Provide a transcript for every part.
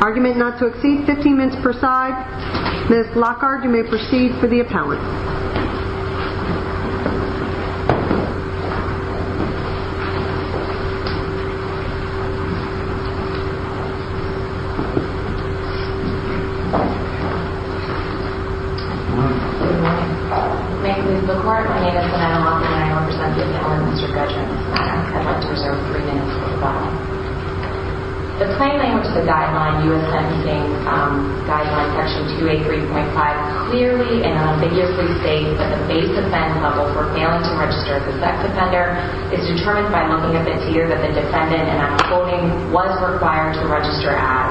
Argument not to exceed 15 minutes per side. Ms. Lockhart you may proceed for the appellant. Thank you. The court may dismiss Ms. Lockhart and I will present the appellant Mr. Gudger in this manner. Appellants are reserved 3 minutes per side. The plain language of the guideline, U.S. Sensing Guideline Section 283.5, clearly and unambiguously states that the base offense level for failing to register as a sex offender is determined by looking at the tier that the defendant, and I'm quoting, was required to register as.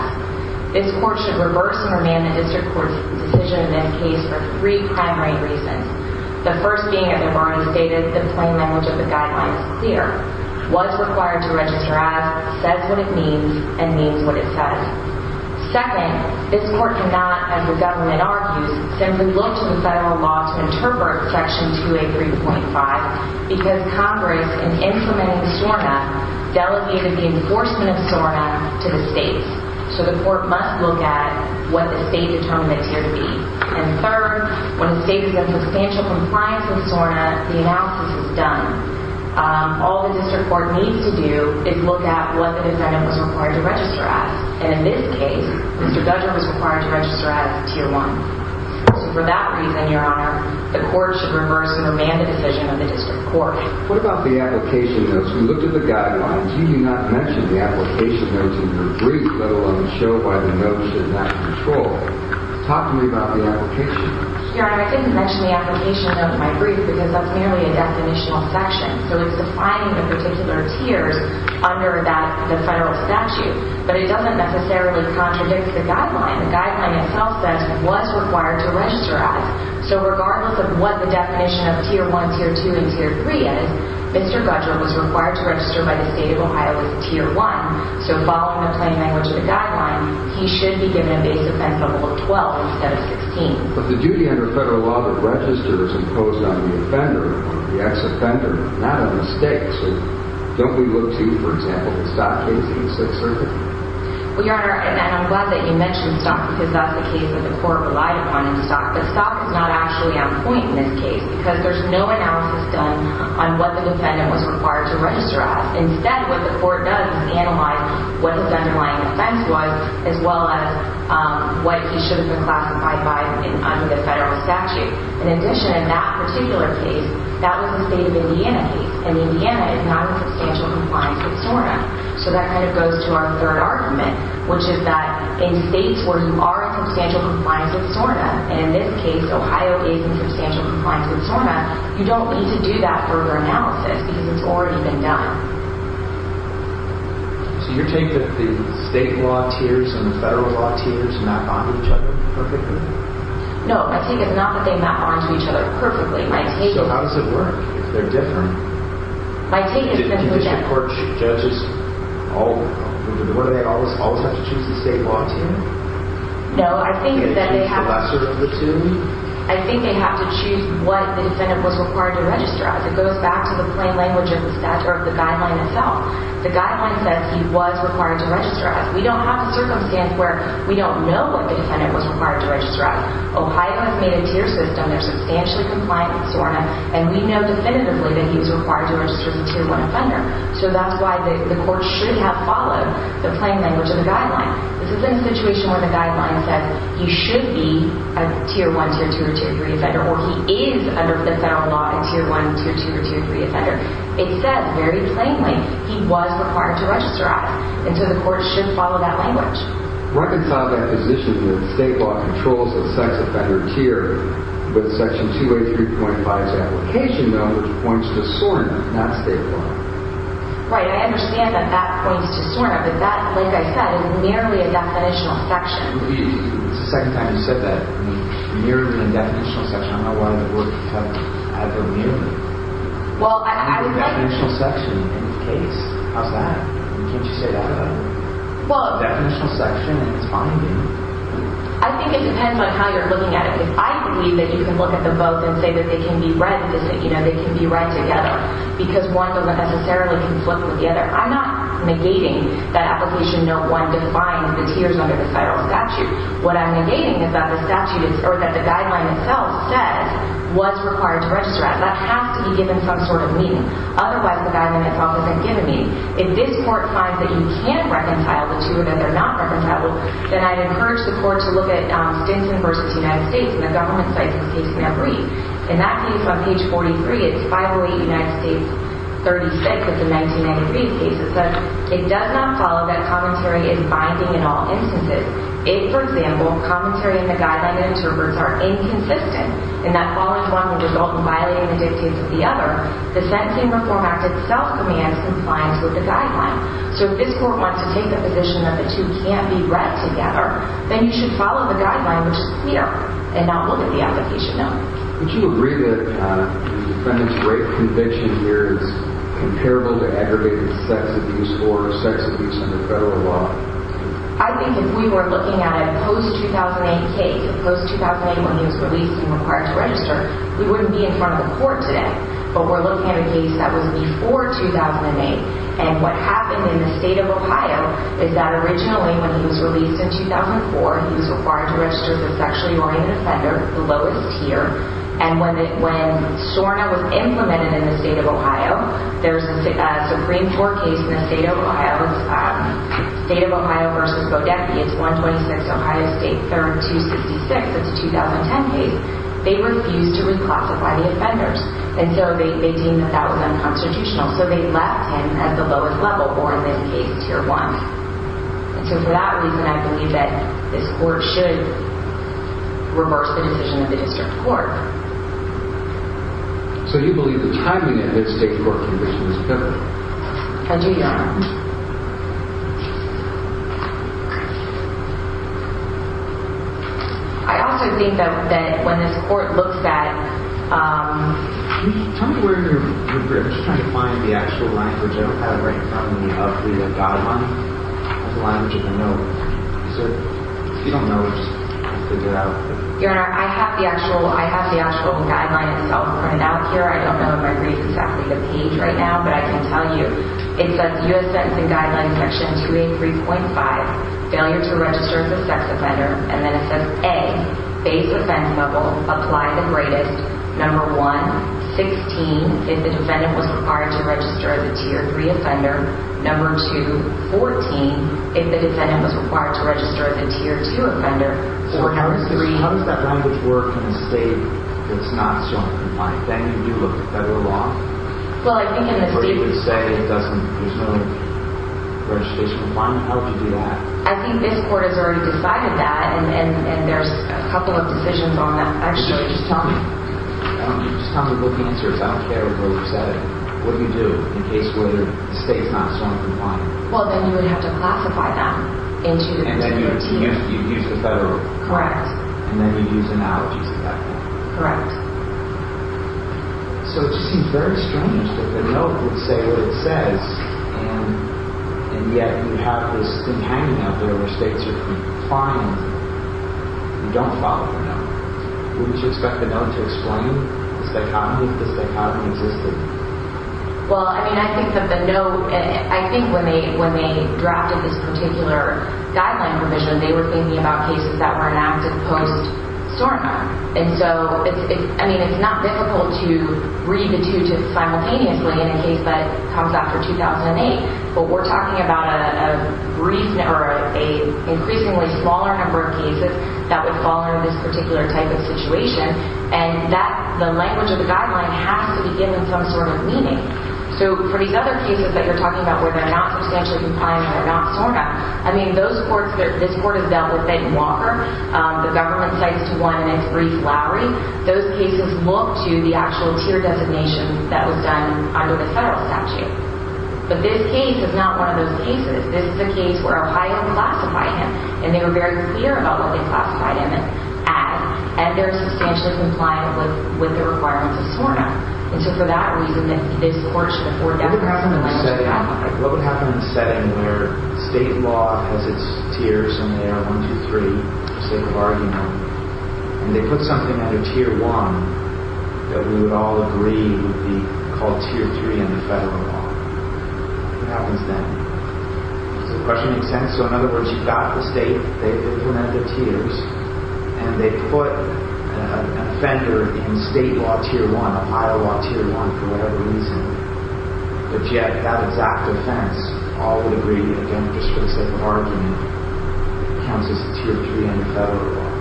This court should reverse and remand the district court's decision in this case for three primary reasons. The first being, as I've already stated, the plain language of the guideline is clear. Was required to register as, says what it means, and means what it says. Second, this court cannot, as the government argues, simply look to the federal law to interpret Section 283.5 because Congress, in implementing SORNA, delegated the enforcement of SORNA to the states. So the court must look at what the state's attorney is here to be. And third, when the state is in substantial compliance with SORNA, the analysis is done. All the district court needs to do is look at what the defendant was required to register as, and in this case, Mr. Gudger was required to register as Tier 1. So for that reason, Your Honor, the court should reverse and remand the decision of the district court. What about the application notes? We looked at the guidelines. You do not mention the application notes in your brief, let alone show why the notes are not controlled. Talk to me about the application notes. Your Honor, I didn't mention the application notes in my brief because that's merely a definitional section. So it's defining the particular tiers under the federal statute. But it doesn't necessarily contradict the guideline. The guideline itself says, was required to register as. So regardless of what the definition of Tier 1, Tier 2, and Tier 3 is, Mr. Gudger was required to register by the state of Ohio as Tier 1. So following the plain language of the guideline, he should be given a base offense level of 12 instead of 16. But the duty under federal law to register is imposed on the offender, on the ex-offender, not on the state. So don't we look to, for example, the Stock case in Sixth Circuit? Instead, what the court does is analyze what his underlying offense was, as well as what he should have been classified by under the federal statute. In addition, in that particular case, that was the state of Indiana case. And Indiana is not in substantial compliance with SORNA. So your take is that the state law tiers and the federal law tiers map onto each other perfectly? No, my take is not that they map onto each other perfectly. So how does it work, if they're different? My take is that the judges always have to choose the state law tier? No, I think that they have to choose what the defendant was required to register as. It goes back to the plain language of the guideline itself. The guideline says he was required to register as. We don't have a circumstance where we don't know what the defendant was required to register as. Ohio has made a tier system. They're substantially compliant with SORNA. And we know definitively that he was required to register as a Tier 1 offender. So that's why the court should have followed the plain language of the guideline. This is in a situation where the guideline says he should be a Tier 1, Tier 2, or Tier 3 offender, or he is under the federal law a Tier 1, Tier 2, or Tier 3 offender. It says very plainly he was required to register as. And so the court should follow that language. Reconcile that position that state law controls the sex offender tier with Section 283.5's application, though, which points to SORNA, not state law. Right. I understand that that points to SORNA. But that, like I said, is merely a definitional section. It's the second time you've said that. You're in a definitional section. I'm not one of the board of attorneys. I go nearer. Well, I would like to... You're in a definitional section in this case. How's that? Can't you say that about other people? Well... Definitional section and it's binding. I think it depends on how you're looking at it. Because I believe that you can look at them both and say that they can be read the same. You know, they can be read together. Because one doesn't necessarily conflict with the other. I'm not negating that Application Note 1 defines the tiers under the federal statute. What I'm negating is that the guideline itself says, was required to register as. That has to be given some sort of meaning. Otherwise, the guideline itself doesn't give a meaning. If this court finds that you can reconcile the two or that they're not reconcilable, then I'd encourage the court to look at Stinson v. United States and the government sites in this case in their brief. In that case on page 43, it's 508 United States 36. It's a 1993 case. It says, it does not follow that commentary is binding in all instances. If, for example, commentary in the guideline and interprets are inconsistent, and that all-in-one would result in violating the dictates of the other, the Sentencing Reform Act itself commands compliance with the guideline. So if this court wants to take the position that the two can't be read together, then you should follow the guideline, which is clear, and not look at the application note. Would you agree that the defendant's rape conviction here is comparable to aggravated sex abuse or sex abuse under federal law? I think if we were looking at a post-2008 case, a post-2008 when he was released and required to register, we wouldn't be in front of the court today. But we're looking at a case that was before 2008, and what happened in the state of Ohio is that originally when he was released in 2004, he was required to register as a sexually-oriented offender, the lowest tier, and when SHORNA was implemented in the state of Ohio, there's a Supreme Court case in the state of Ohio, State of Ohio v. Bodecki. It's 126 Ohio State, 3266. It's a 2010 case. They refused to reclassify the offenders, and so they deemed that that was unconstitutional, so they left him at the lowest level, or in this case, tier one. And so for that reason, I believe that this court should reverse the decision of the district court. So you believe the timing of this state court conviction is correct? I do, Your Honor. I also think that when this court looks at... Tell me where you're trying to find the actual language I don't have right in front of me of the guideline, the language of the note. If you don't know, just figure it out. Your Honor, I have the actual guideline itself printed out here. I don't know if I read exactly the page right now, but I can tell you. It says US Sentencing Guideline Section 283.5, Failure to Register as a Sex Offender, and then it says, A, Base Offense Level, Apply the Greatest. Number one, 16, if the defendant was required to register as a tier three offender. Number two, 14, if the defendant was required to register as a tier two offender. So how does that language work in a state that's not so unconfined? I mean, you look at federal law. Well, I think in the state... Where you would say there's no registration requirement. How would you do that? I think this court has already decided that, and there's a couple of decisions on that. Actually, just tell me. Just tell me what the answer is. I don't care what you said. What do you do in a case where the state's not so unconfined? Well, then you would have to classify them into... And then you'd use the federal? Correct. And then you'd use analogies of that? Correct. So it just seems very strange that the note would say what it says, and yet you have this thing hanging out there where states are complying. You don't follow the note. Wouldn't you expect the note to explain the psychotomy? The psychotomy existed. Well, I mean, I think that the note... I think when they drafted this particular guideline provision, they were thinking about cases that were announced as post-SORNA. And so, I mean, it's not difficult to read the two simultaneously in a case that comes out for 2008, but we're talking about an increasingly smaller number of cases that would fall under this particular type of situation, and the language of the guideline has to be given some sort of meaning. So for these other cases that you're talking about where they're not substantially compliant and they're not SORNA, I mean, this court has dealt with Ben Walker, the government cites to one in its brief lowery. Those cases look to the actual tier designation that was done under the federal statute. But this case is not one of those cases. This is a case where Ohio classified him, and they were very clear about what they classified him as, and they're substantially compliant with the requirements of SORNA. And so for that reason, this court should afford them... What would happen in a setting where state law has its tiers in there, one, two, three, state of argument, and they put something under tier one that we would all agree would be called tier three under federal law. What happens then? Does the question make sense? So in other words, you've got the state, they've implemented tiers, and they put an offender in state law tier one, Ohio law tier one, for whatever reason, but yet that exact offense, all would agree, again, just for the sake of argument, counts as tier three under federal law.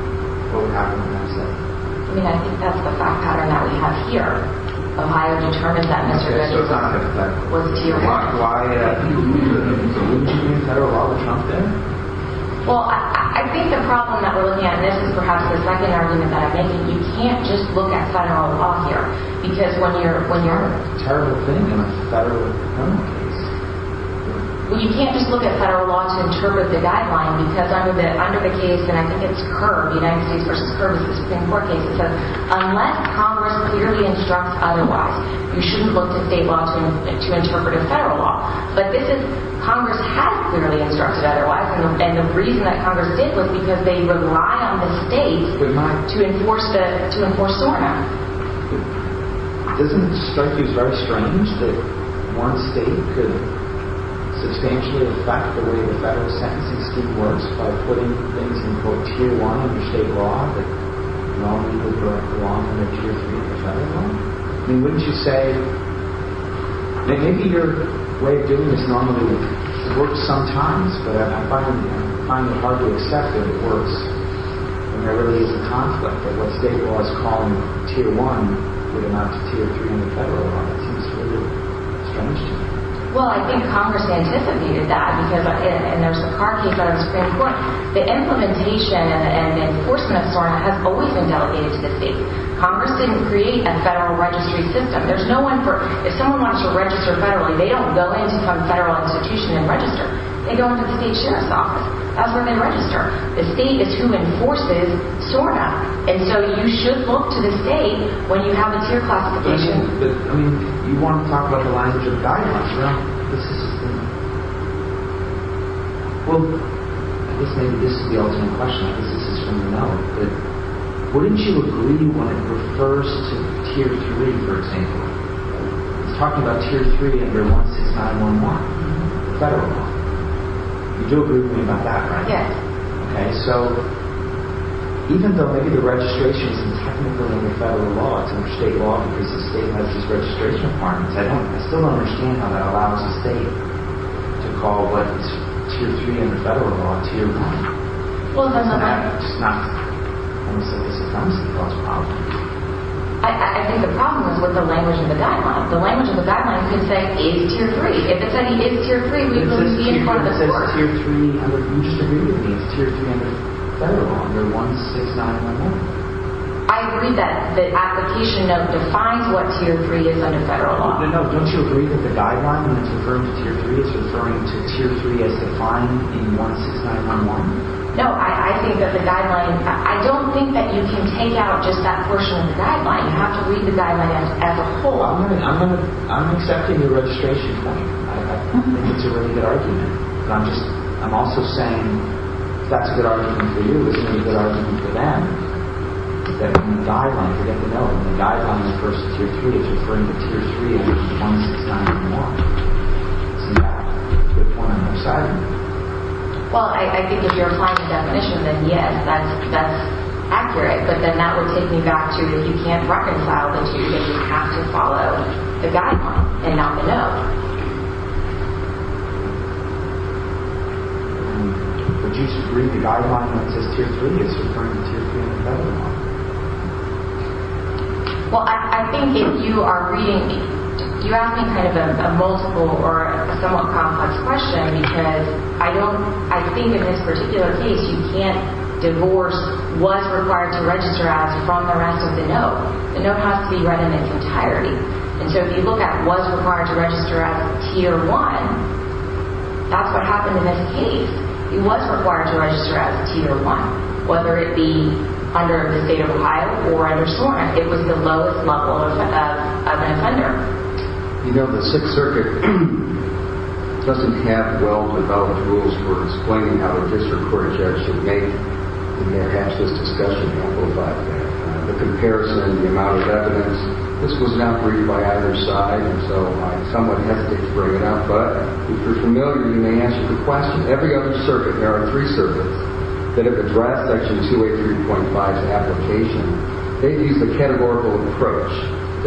What would happen in that setting? I mean, I think that's the fact pattern that we have here. Ohio determined that Mr. Goody was tier one. Why? I think it would be an inclusion in federal law to trump that. Well, I think the problem that we're looking at in this is perhaps the second argument that I'm making. You can't just look at federal law here, because when you're... Terrible thing in a federal criminal case. Well, you can't just look at federal law to interpret the guideline, because under the case, and I think it's Kerr, United States v. Kerr, this is a Supreme Court case, it says, unless Congress clearly instructs otherwise, you shouldn't look to state law to interpret a federal law. But Congress has clearly instructed otherwise, and the reason that Congress did was because they rely on the state to enforce SOAR now. Doesn't it strike you as very strange that one state could substantially affect the way the federal sentencing scheme works by putting things in, quote, tier one under state law that normally would belong under tier three in the federal law? I mean, wouldn't you say... I mean, maybe your way of doing this normally works sometimes, but I find it hard to accept that it works when there really is a conflict, that what state law is calling tier one would amount to tier three in the federal law. That seems really strange to me. Well, I think Congress anticipated that, and there's the Kerr case under the Supreme Court. The implementation and enforcement of SOAR now has always been delegated to the state. Congress didn't create a federal registry system. There's no one for... If someone wants to register federally, they don't go into some federal institution and register. They go into the state sheriff's office. That's where they register. The state is who enforces SOAR now. And so you should look to the state when you have a tier classification. I mean, you want to talk about the language of guidelines. Well, I guess maybe this is the ultimate question. I guess it's just for me to know. Wouldn't you agree when it refers to tier three, for example? It's talking about tier three under 16911, the federal law. You do agree with me about that, right? Yes. Okay, so even though maybe the registration is technically under federal law, it's under state law because the state has these registration requirements, I still don't understand how that allows the state to call what's tier three under federal law tier one. Well, that's not right. It's not. I'm just saying that's the problem. I think the problem is with the language of the guidelines. The language of the guidelines could say, it's tier three. If it said it is tier three, we wouldn't be in front of the SOAR. You just agree with me. It's tier three under federal law, under 16911. I agree that the application note defines what tier three is under federal law. No, no, don't you agree that the guideline when it's referring to tier three, it's referring to tier three as defined in 16911? No, I think that the guideline, I don't think that you can take out just that portion of the guideline. You have to read the guideline as a whole. I'm accepting your registration point. I think it's a really good argument. I'm just, I'm also saying, if that's a good argument for you, isn't it a good argument for them that when the guideline, forget the note, when the guideline is first tier three, it's referring to tier three under 16911? Isn't that a good point on their side? Well, I think if you're applying the definition, then yes, that's accurate. But then that would take me back to that you can't reconcile the two things. You have to follow the guideline and not the note. Would you read the guideline when it says tier three as referring to tier three under 16911? Well, I think if you are reading, do you ask me kind of a multiple or a somewhat complex question? Because I don't, I think in this particular case, you can't divorce what's required to register as from the rest of the note. The note has to be read in its entirety. And so if you look at what's required to register as tier one, that's what happened in this case. He was required to register as tier one, whether it be under the state of Ohio or under SORNA. It was the lowest level of an offender. You know, the Sixth Circuit doesn't have well-developed rules for explaining how a district court is actually made. And there has been discussion about that. The comparison, the amount of evidence, this was not briefed by either side. And so I'm somewhat hesitant to bring it up. But if you're familiar, you may answer the question. Every other circuit, there are three circuits that have addressed Section 283.5's application. They've used a categorical approach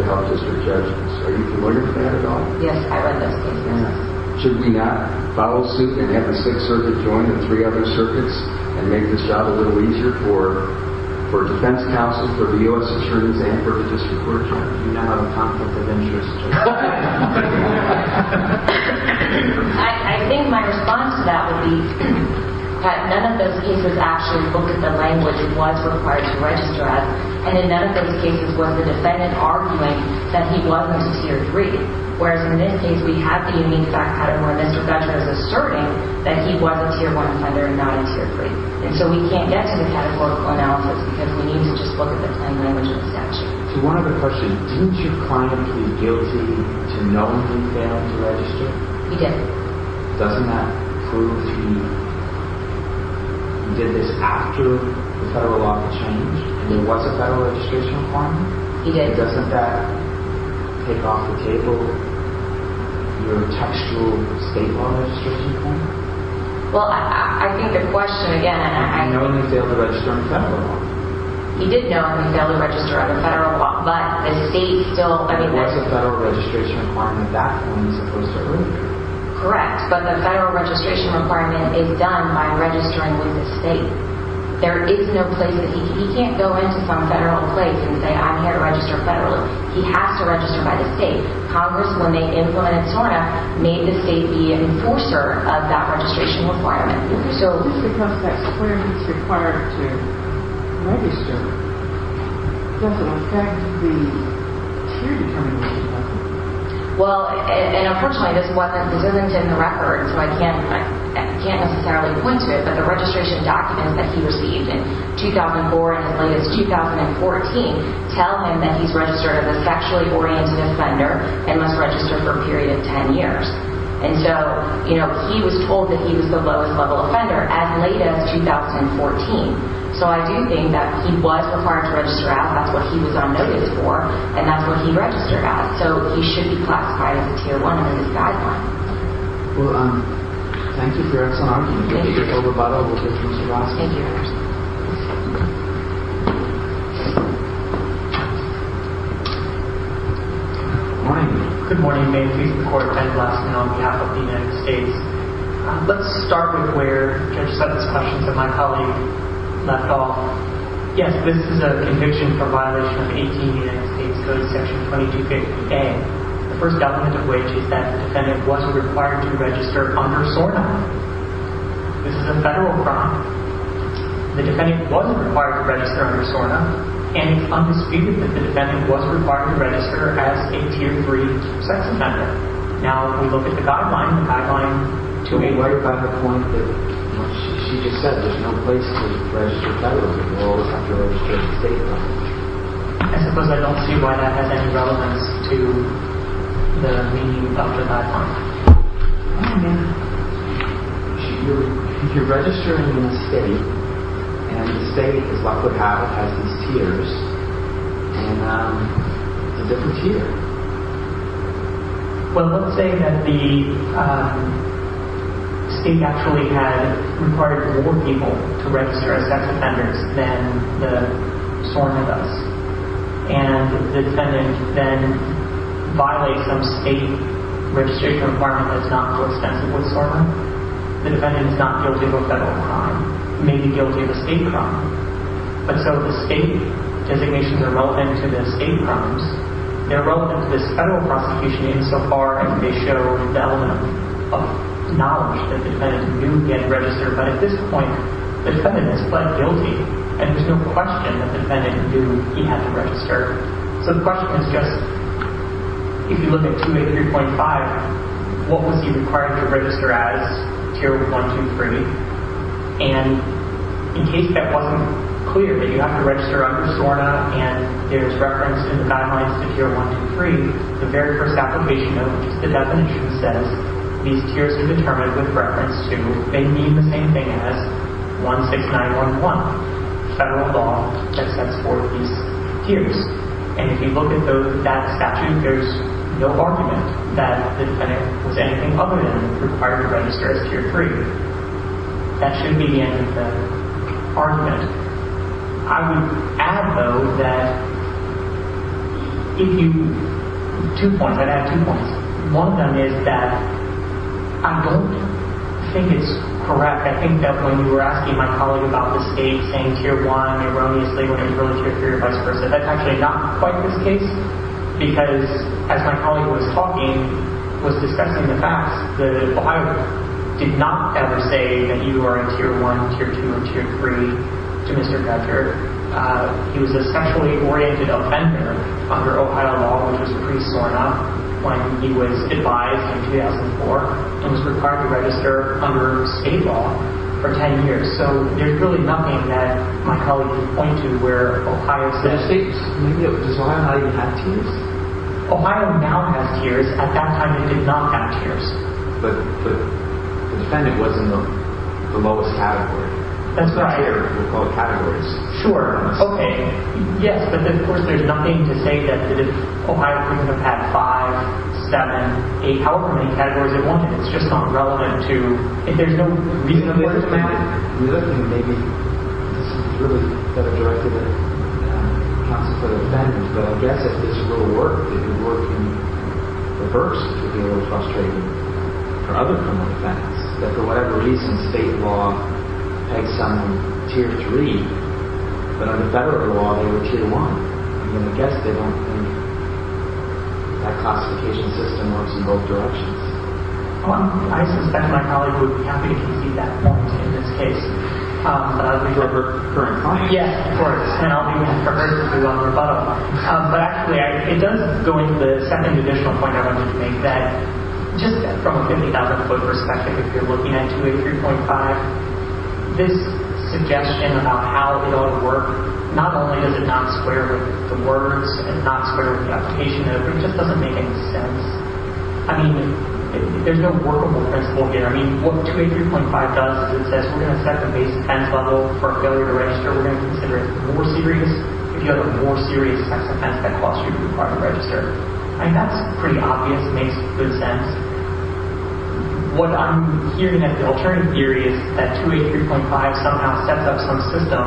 to help district judges. Are you familiar with that at all? Yes, I read those cases. Should we not follow suit and have the Sixth Circuit join the three other circuits and make this job a little easier for defense counsel, for the U.S. attorneys, and for the district court judge? Do you not have a conflict of interest? I think my response to that would be that none of those cases actually look at the language it was required to register as. And in none of those cases was the defendant arguing that he wasn't a tier three. Whereas in this case, we have the unique fact pattern where Mr. Fetcher is asserting that he was a tier one offender and not a tier three. And so we can't get to the categorical analysis because we need to just look at the plain language of the statute. To one other question, didn't your client plead guilty to knowing he failed to register? He did. Doesn't that prove to be he did this after the federal law had changed and there was a federal registration requirement? He did. Doesn't that take off the table your textual state law registration requirement? Well, I think the question, again, I He did know he failed to register under federal law. He did know he failed to register under federal law. But the state still, I mean, that's It was a federal registration requirement. That's when he's supposed to agree. Correct. But the federal registration requirement is done by registering with the state. There is no place that he can't go into some federal place and say, I'm here to register federally. He has to register by the state. Congress, when they implemented SORNA, made the state the enforcer of that registration requirement. Is this because that's where he's required to register? Does it affect the tier determination? Well, and unfortunately, this wasn't, this isn't in the record. So I can't necessarily point to it. But the registration documents that he received in 2004 and his latest, 2014, tell him that he's registered as a sexually oriented offender and must register for a period of 10 years. And so, you know, he was told that he was the lowest level offender as late as 2014. So I do think that he was required to register out. That's what he was on notice for. And that's what he registered at. So he should be classified as a tier one under this guideline. Well, thank you for your excellent argument. Thank you. We'll take over. We'll take Mr. Raskin. Thank you. Good morning. Good morning. May the peace of the court attend. Raskin, on behalf of the United States. Let's start with where I just had this question from my colleague, Lethal. Yes, this is a conviction for violation of 18 United States Code, section 2250A. The first element of which is that the defendant wasn't required to register under SORDA. This is a federal crime. The defendant wasn't required to register under SORDA, and it's undisputed that the defendant wasn't required to register as a tier three sex offender. Now, if we look at the guideline, the guideline to be worked by the point that, you know, she just said there's no place to register federally. You always have to register at the state level. I suppose I don't see why that has any relevance to the meaning of the guideline. Oh, yeah. If you're registering in a state, and the state, as luck would have it, has these tiers, and it's a different tier. Well, let's say that the state actually had required more people to register as sex offenders than the SORDA does. And the defendant then violates some state registration requirement that's not so extensive with SORDA. The defendant is not guilty of a federal crime. He may be guilty of a state crime. But so the state designations are relevant to the state crimes. They're relevant to this federal prosecution insofar as they show the element of knowledge that the defendant knew he had to register. But at this point, the defendant has pled guilty, and there's no question that the defendant knew he had to register. So the question is just, if you look at 283.5, what was he required to register as, tier 123? And in case that wasn't clear, that you have to register under SORDA, and there's reference to the guidelines to tier 123, the very first application of the definition says these tiers are determined with reference to they mean the same thing as 16911, not federal law that sets forth these tiers. And if you look at that statute, there's no argument that the defendant was anything other than required to register as tier 3. That should be the end of the argument. I would add, though, that if you, two points. I'd add two points. One of them is that I don't think it's correct. I think that when you were asking my colleague about the state saying tier 1 erroneously, when it was early tier 3, or vice versa, that's actually not quite the case, because as my colleague was talking, was discussing the facts, that Ohio did not ever say that you are in tier 1, tier 2, or tier 3 to Mr. Fetcher. He was a sexually oriented offender under Ohio law, which was pretty sore enough, when he was advised in 2004, and was required to register under state law for 10 years. So there's really nothing that my colleague could point to where Ohio said. Does Ohio not even have tiers? Ohio now has tiers. At that time, it did not have tiers. But the defendant was in the lowest category. That's right. That's what we call categories. Sure. OK. Yes, but of course, there's nothing to say that if Ohio couldn't have had 5, 7, 8, however many categories they wanted. It's just not relevant to. And there's no reason for it to matter. The other thing, maybe this is really better directed at a constitutive defendant, but I guess if this were to work, it would work in reverse. It would be a little frustrating for other criminal defendants, that for whatever reason, state law pegs someone in tier 3. But under federal law, they were tier 1. And I guess they don't think that classification system works in both directions. Well, I suspect my colleague would be happy to see that point in this case. Would you like her in court? Yes, of course. And I'll be waiting for her to do a rebuttal. But actually, it does go into the second additional point I wanted to make, that just from a 50,000 foot perspective, if you're looking at 283.5, this suggestion about how it ought to work, not only does it not square with the words and not square with the application, it just doesn't make any sense. I mean, there's no workable principle here. I mean, what 283.5 does is it says, we're going to set the base offense level for a failure to register. We're going to consider it more serious. If you have a more serious offense, that costs you to require to register. I mean, that's pretty obvious. It makes good sense. What I'm hearing at the alternative theory is that 283.5 somehow sets up some system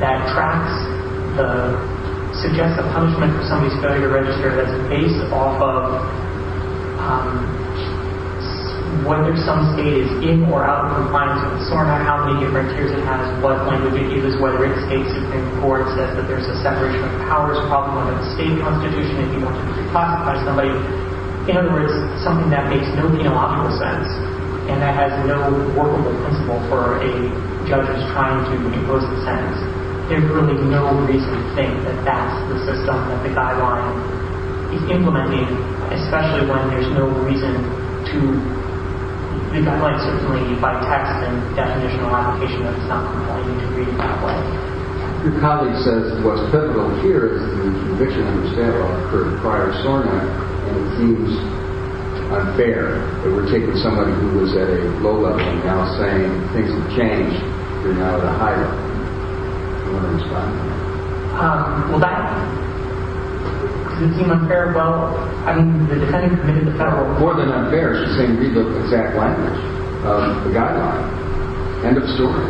that tracks the suggestive punishment for somebody's failure to register that's based off of whether some state is in or out of compliance with the SOAR, no matter how many different tiers it has, what language it uses, whether it states it in court, says that there's a separation of powers problem under the state constitution if you want to reclassify somebody. In other words, something that makes no theological sense and that has no workable principle for a judge who's trying to impose a sentence. There's really no reason to think that that's the system that the guideline is implementing, especially when there's no reason to. The guideline certainly, by text and definitional application, does not compel you to read it that way. Your colleague says what's pivotal here is that the conviction of the standoff occurred prior to SORNA, and it seems unfair that we're taking somebody who was at a low level and now saying things have changed. They're now at a high level. You want to respond? Well, that doesn't seem unfair. Well, I mean, the defendant committed a federal crime. More than unfair, she's saying read the exact language of the guideline. End of story.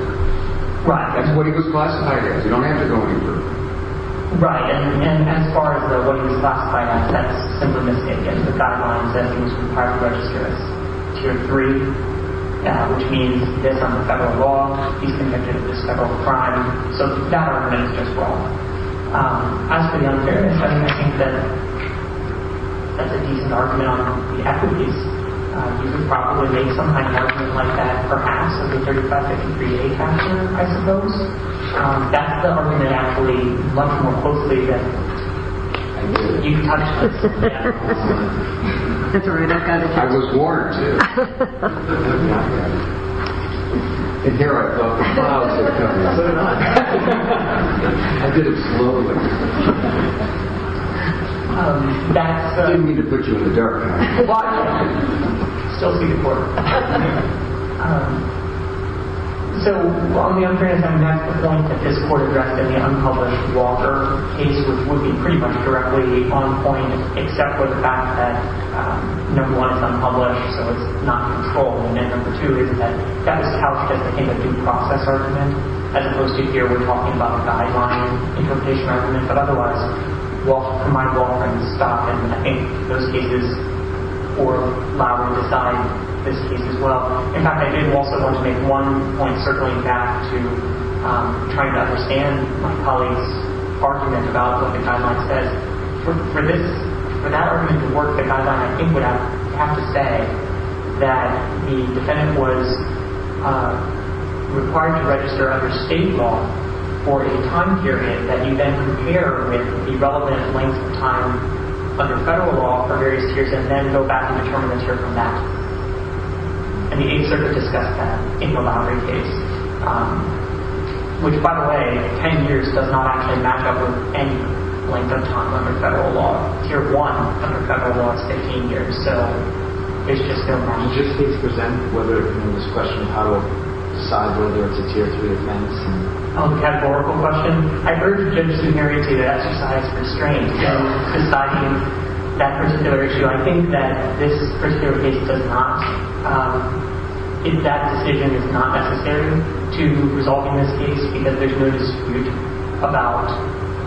Right. That's what he was classified as. You don't have to go any further. Right. And as far as what he was classified as, that's simply mistaken. The guideline says he was compiled to register as tier 3, which means this on the federal law. He's convicted of this federal crime. So that argument is just wrong. As for the unfairness, I think that that's a decent argument on the equities. You could probably make some kind of argument like that, perhaps, as a 35-53-A factor, I suppose. That's the argument I believe much more closely than this. I did. You touched this. Yeah. That's all right. I was warned, too. I'm not bad at it. And here I thought the clouds were coming. No, they're not. I did it slowly. I didn't mean to put you in the dark. Why not? Still see the court. So on the unfairness, I'm not at the point that this court addressed in the unpublished Walker case, which would be pretty much directly on point, except for the fact that number one, it's unpublished. So it's not controlled. And then number two is that that was couched as a kind of due process argument, as opposed to here we're talking about the guideline interpretation argument. But otherwise, Walker might well have been stopped. And I think those cases will allow to decide this case as well. In fact, I did also want to make one point, circling back to trying to understand my colleague's argument about what the guideline says. For that argument to work, the guideline, I think, would have to say that the defendant was required to register under state law for a time period that you then compare with the relevant length of time under federal law for various tiers, and then go back and determine the tier from that. And the Eighth Circuit discussed that in the Lowry case, which, by the way, 10 years does not actually match up with any length of time under federal law. Tier 1 under federal law is 15 years. So it's just going back and forth. Just to present this question, how do I decide whether it's a tier 3 offense? A categorical question? I've heard judges in areas say that exercise restraints. So deciding that particular issue, I think that this particular case does not. That decision is not necessary to resolve in this case, because there's no dispute about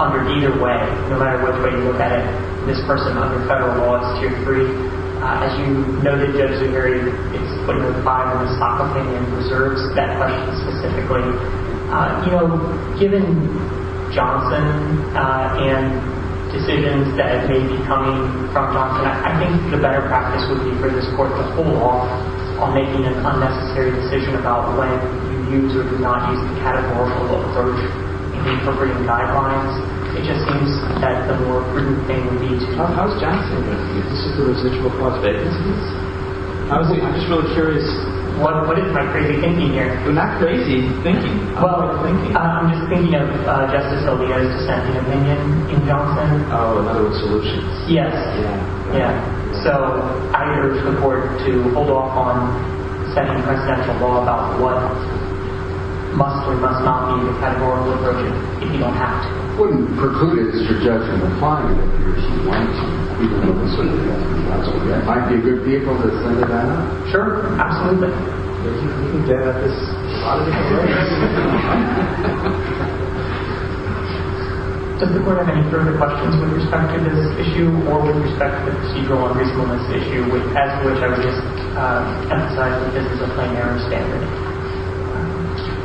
under either way, no matter which way you look at it, this person under federal law is tier 3. As you know, the judge in your area is putting a five on the stock opinion and reserves that question specifically. Given Johnson and decisions that may be coming from Johnson, I think the better practice would be for this court to pull off on making an unnecessary decision about when you use or do not use the categorical approach in appropriating guidelines. It just seems that the more prudent thing would be to do. How is Johnson going to do this? Is there a residual prospect of this? I'm just really curious. What is my crazy thinking here? You're not crazy thinking. I'm just thinking of Justice Alito's dissenting opinion in Johnson. Oh, in other words, solutions. Yes. Yeah. So I urge the court to hold off on setting a presidential law about what must or must not be the categorical approach if you don't have to. Wouldn't preclude his suggestion of applying it if he or she wanted to? It might be a good vehicle to send it out. Sure. Absolutely. Does the court have any further questions with respect to this issue or with respect to the procedural unreasonableness issue, as to which I would just emphasize that this is a plenary standard?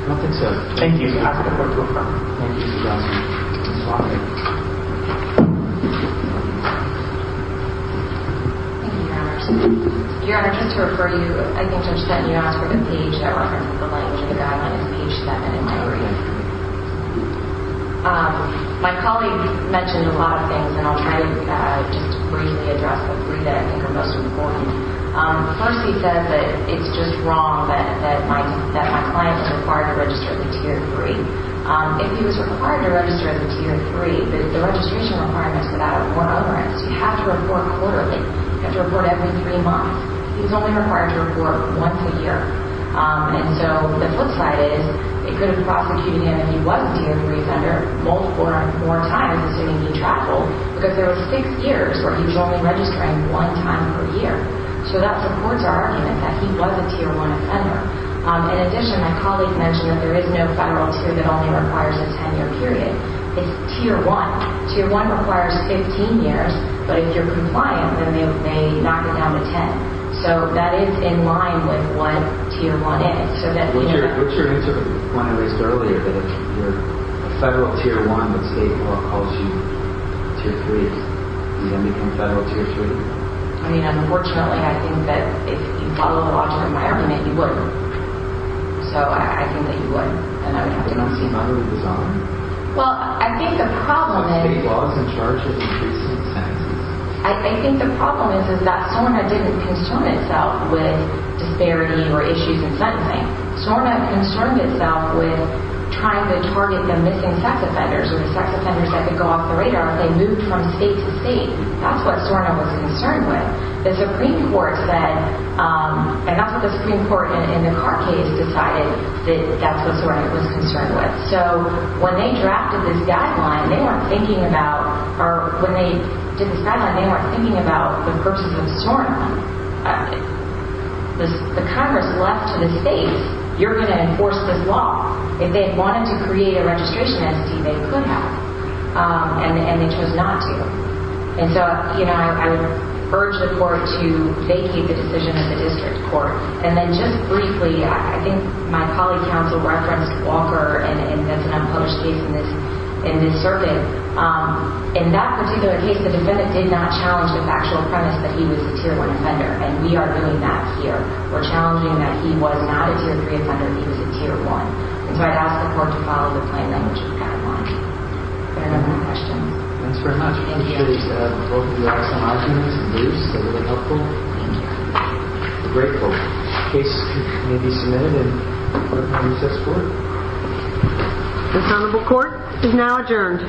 I don't think so. Thank you. I ask the court to adjourn. Thank you, Your Honor. Thank you, Your Honor. Your Honor, just to refer you, I think Judge Stanton, you asked for the page that references the language of the guideline. It's page seven in my reading. My colleague mentioned a lot of things, and I'll try to just briefly address the three that I think are most important. Percy says that it's just wrong that my client is required to register as a Tier 3. If he was required to register as a Tier 3, the registration requirements for that are more onerous. You have to report quarterly. You have to report every three months. He's only required to report once a year. And so the flip side is it could have prosecuted him if he was a Tier 3 offender, multiple or more times, assuming he traveled. Because there were six years where he was only registering one time per year. So that supports our argument that he was a Tier 1 offender. In addition, my colleague mentioned that there is no federal tier that only requires a 10-year period. It's Tier 1. Tier 1 requires 15 years, but if you're compliant, then they knock it down to 10. So that is in line with what Tier 1 is. So that means that What's your answer to the point I raised earlier, that if you're a federal Tier 1, the state law calls you Tier 3. Is he going to become federal Tier 3? I mean, unfortunately, I think that if you So I think that you would. And I would have to not see if I were in the zone. Well, I think the problem is State laws in charge of increasing sentences. I think the problem is that SORNA didn't concern itself with disparity or issues in sentencing. SORNA concerned itself with trying to target the missing sex offenders or the sex offenders that could go off the radar if they moved from state to state. That's what SORNA was concerned with. The Supreme Court said, and that's the Supreme Court in the Carr case decided that that's what SORNA was concerned with. So when they drafted this guideline, they weren't thinking about, or when they did this guideline, they weren't thinking about the purposes of SORNA. The Congress left to the states, you're going to enforce this law. If they wanted to create a registration entity, they could have, and they chose not to. And so I would urge the court to vacate the decision to the district court. And then just briefly, I think my colleague counsel referenced Walker, and that's an unpublished case in this circuit. In that particular case, the defendant did not challenge the factual premise that he was a Tier 1 offender, and we are doing that here. We're challenging that he was not a Tier 3 offender, that he was a Tier 1. And so I'd ask the court to follow the plain language of the guideline. If there are no more questions. Thank you. Thank you. Thank you. I'm grateful. The case may be submitted in recess court. The Honorable Court is now adjourned.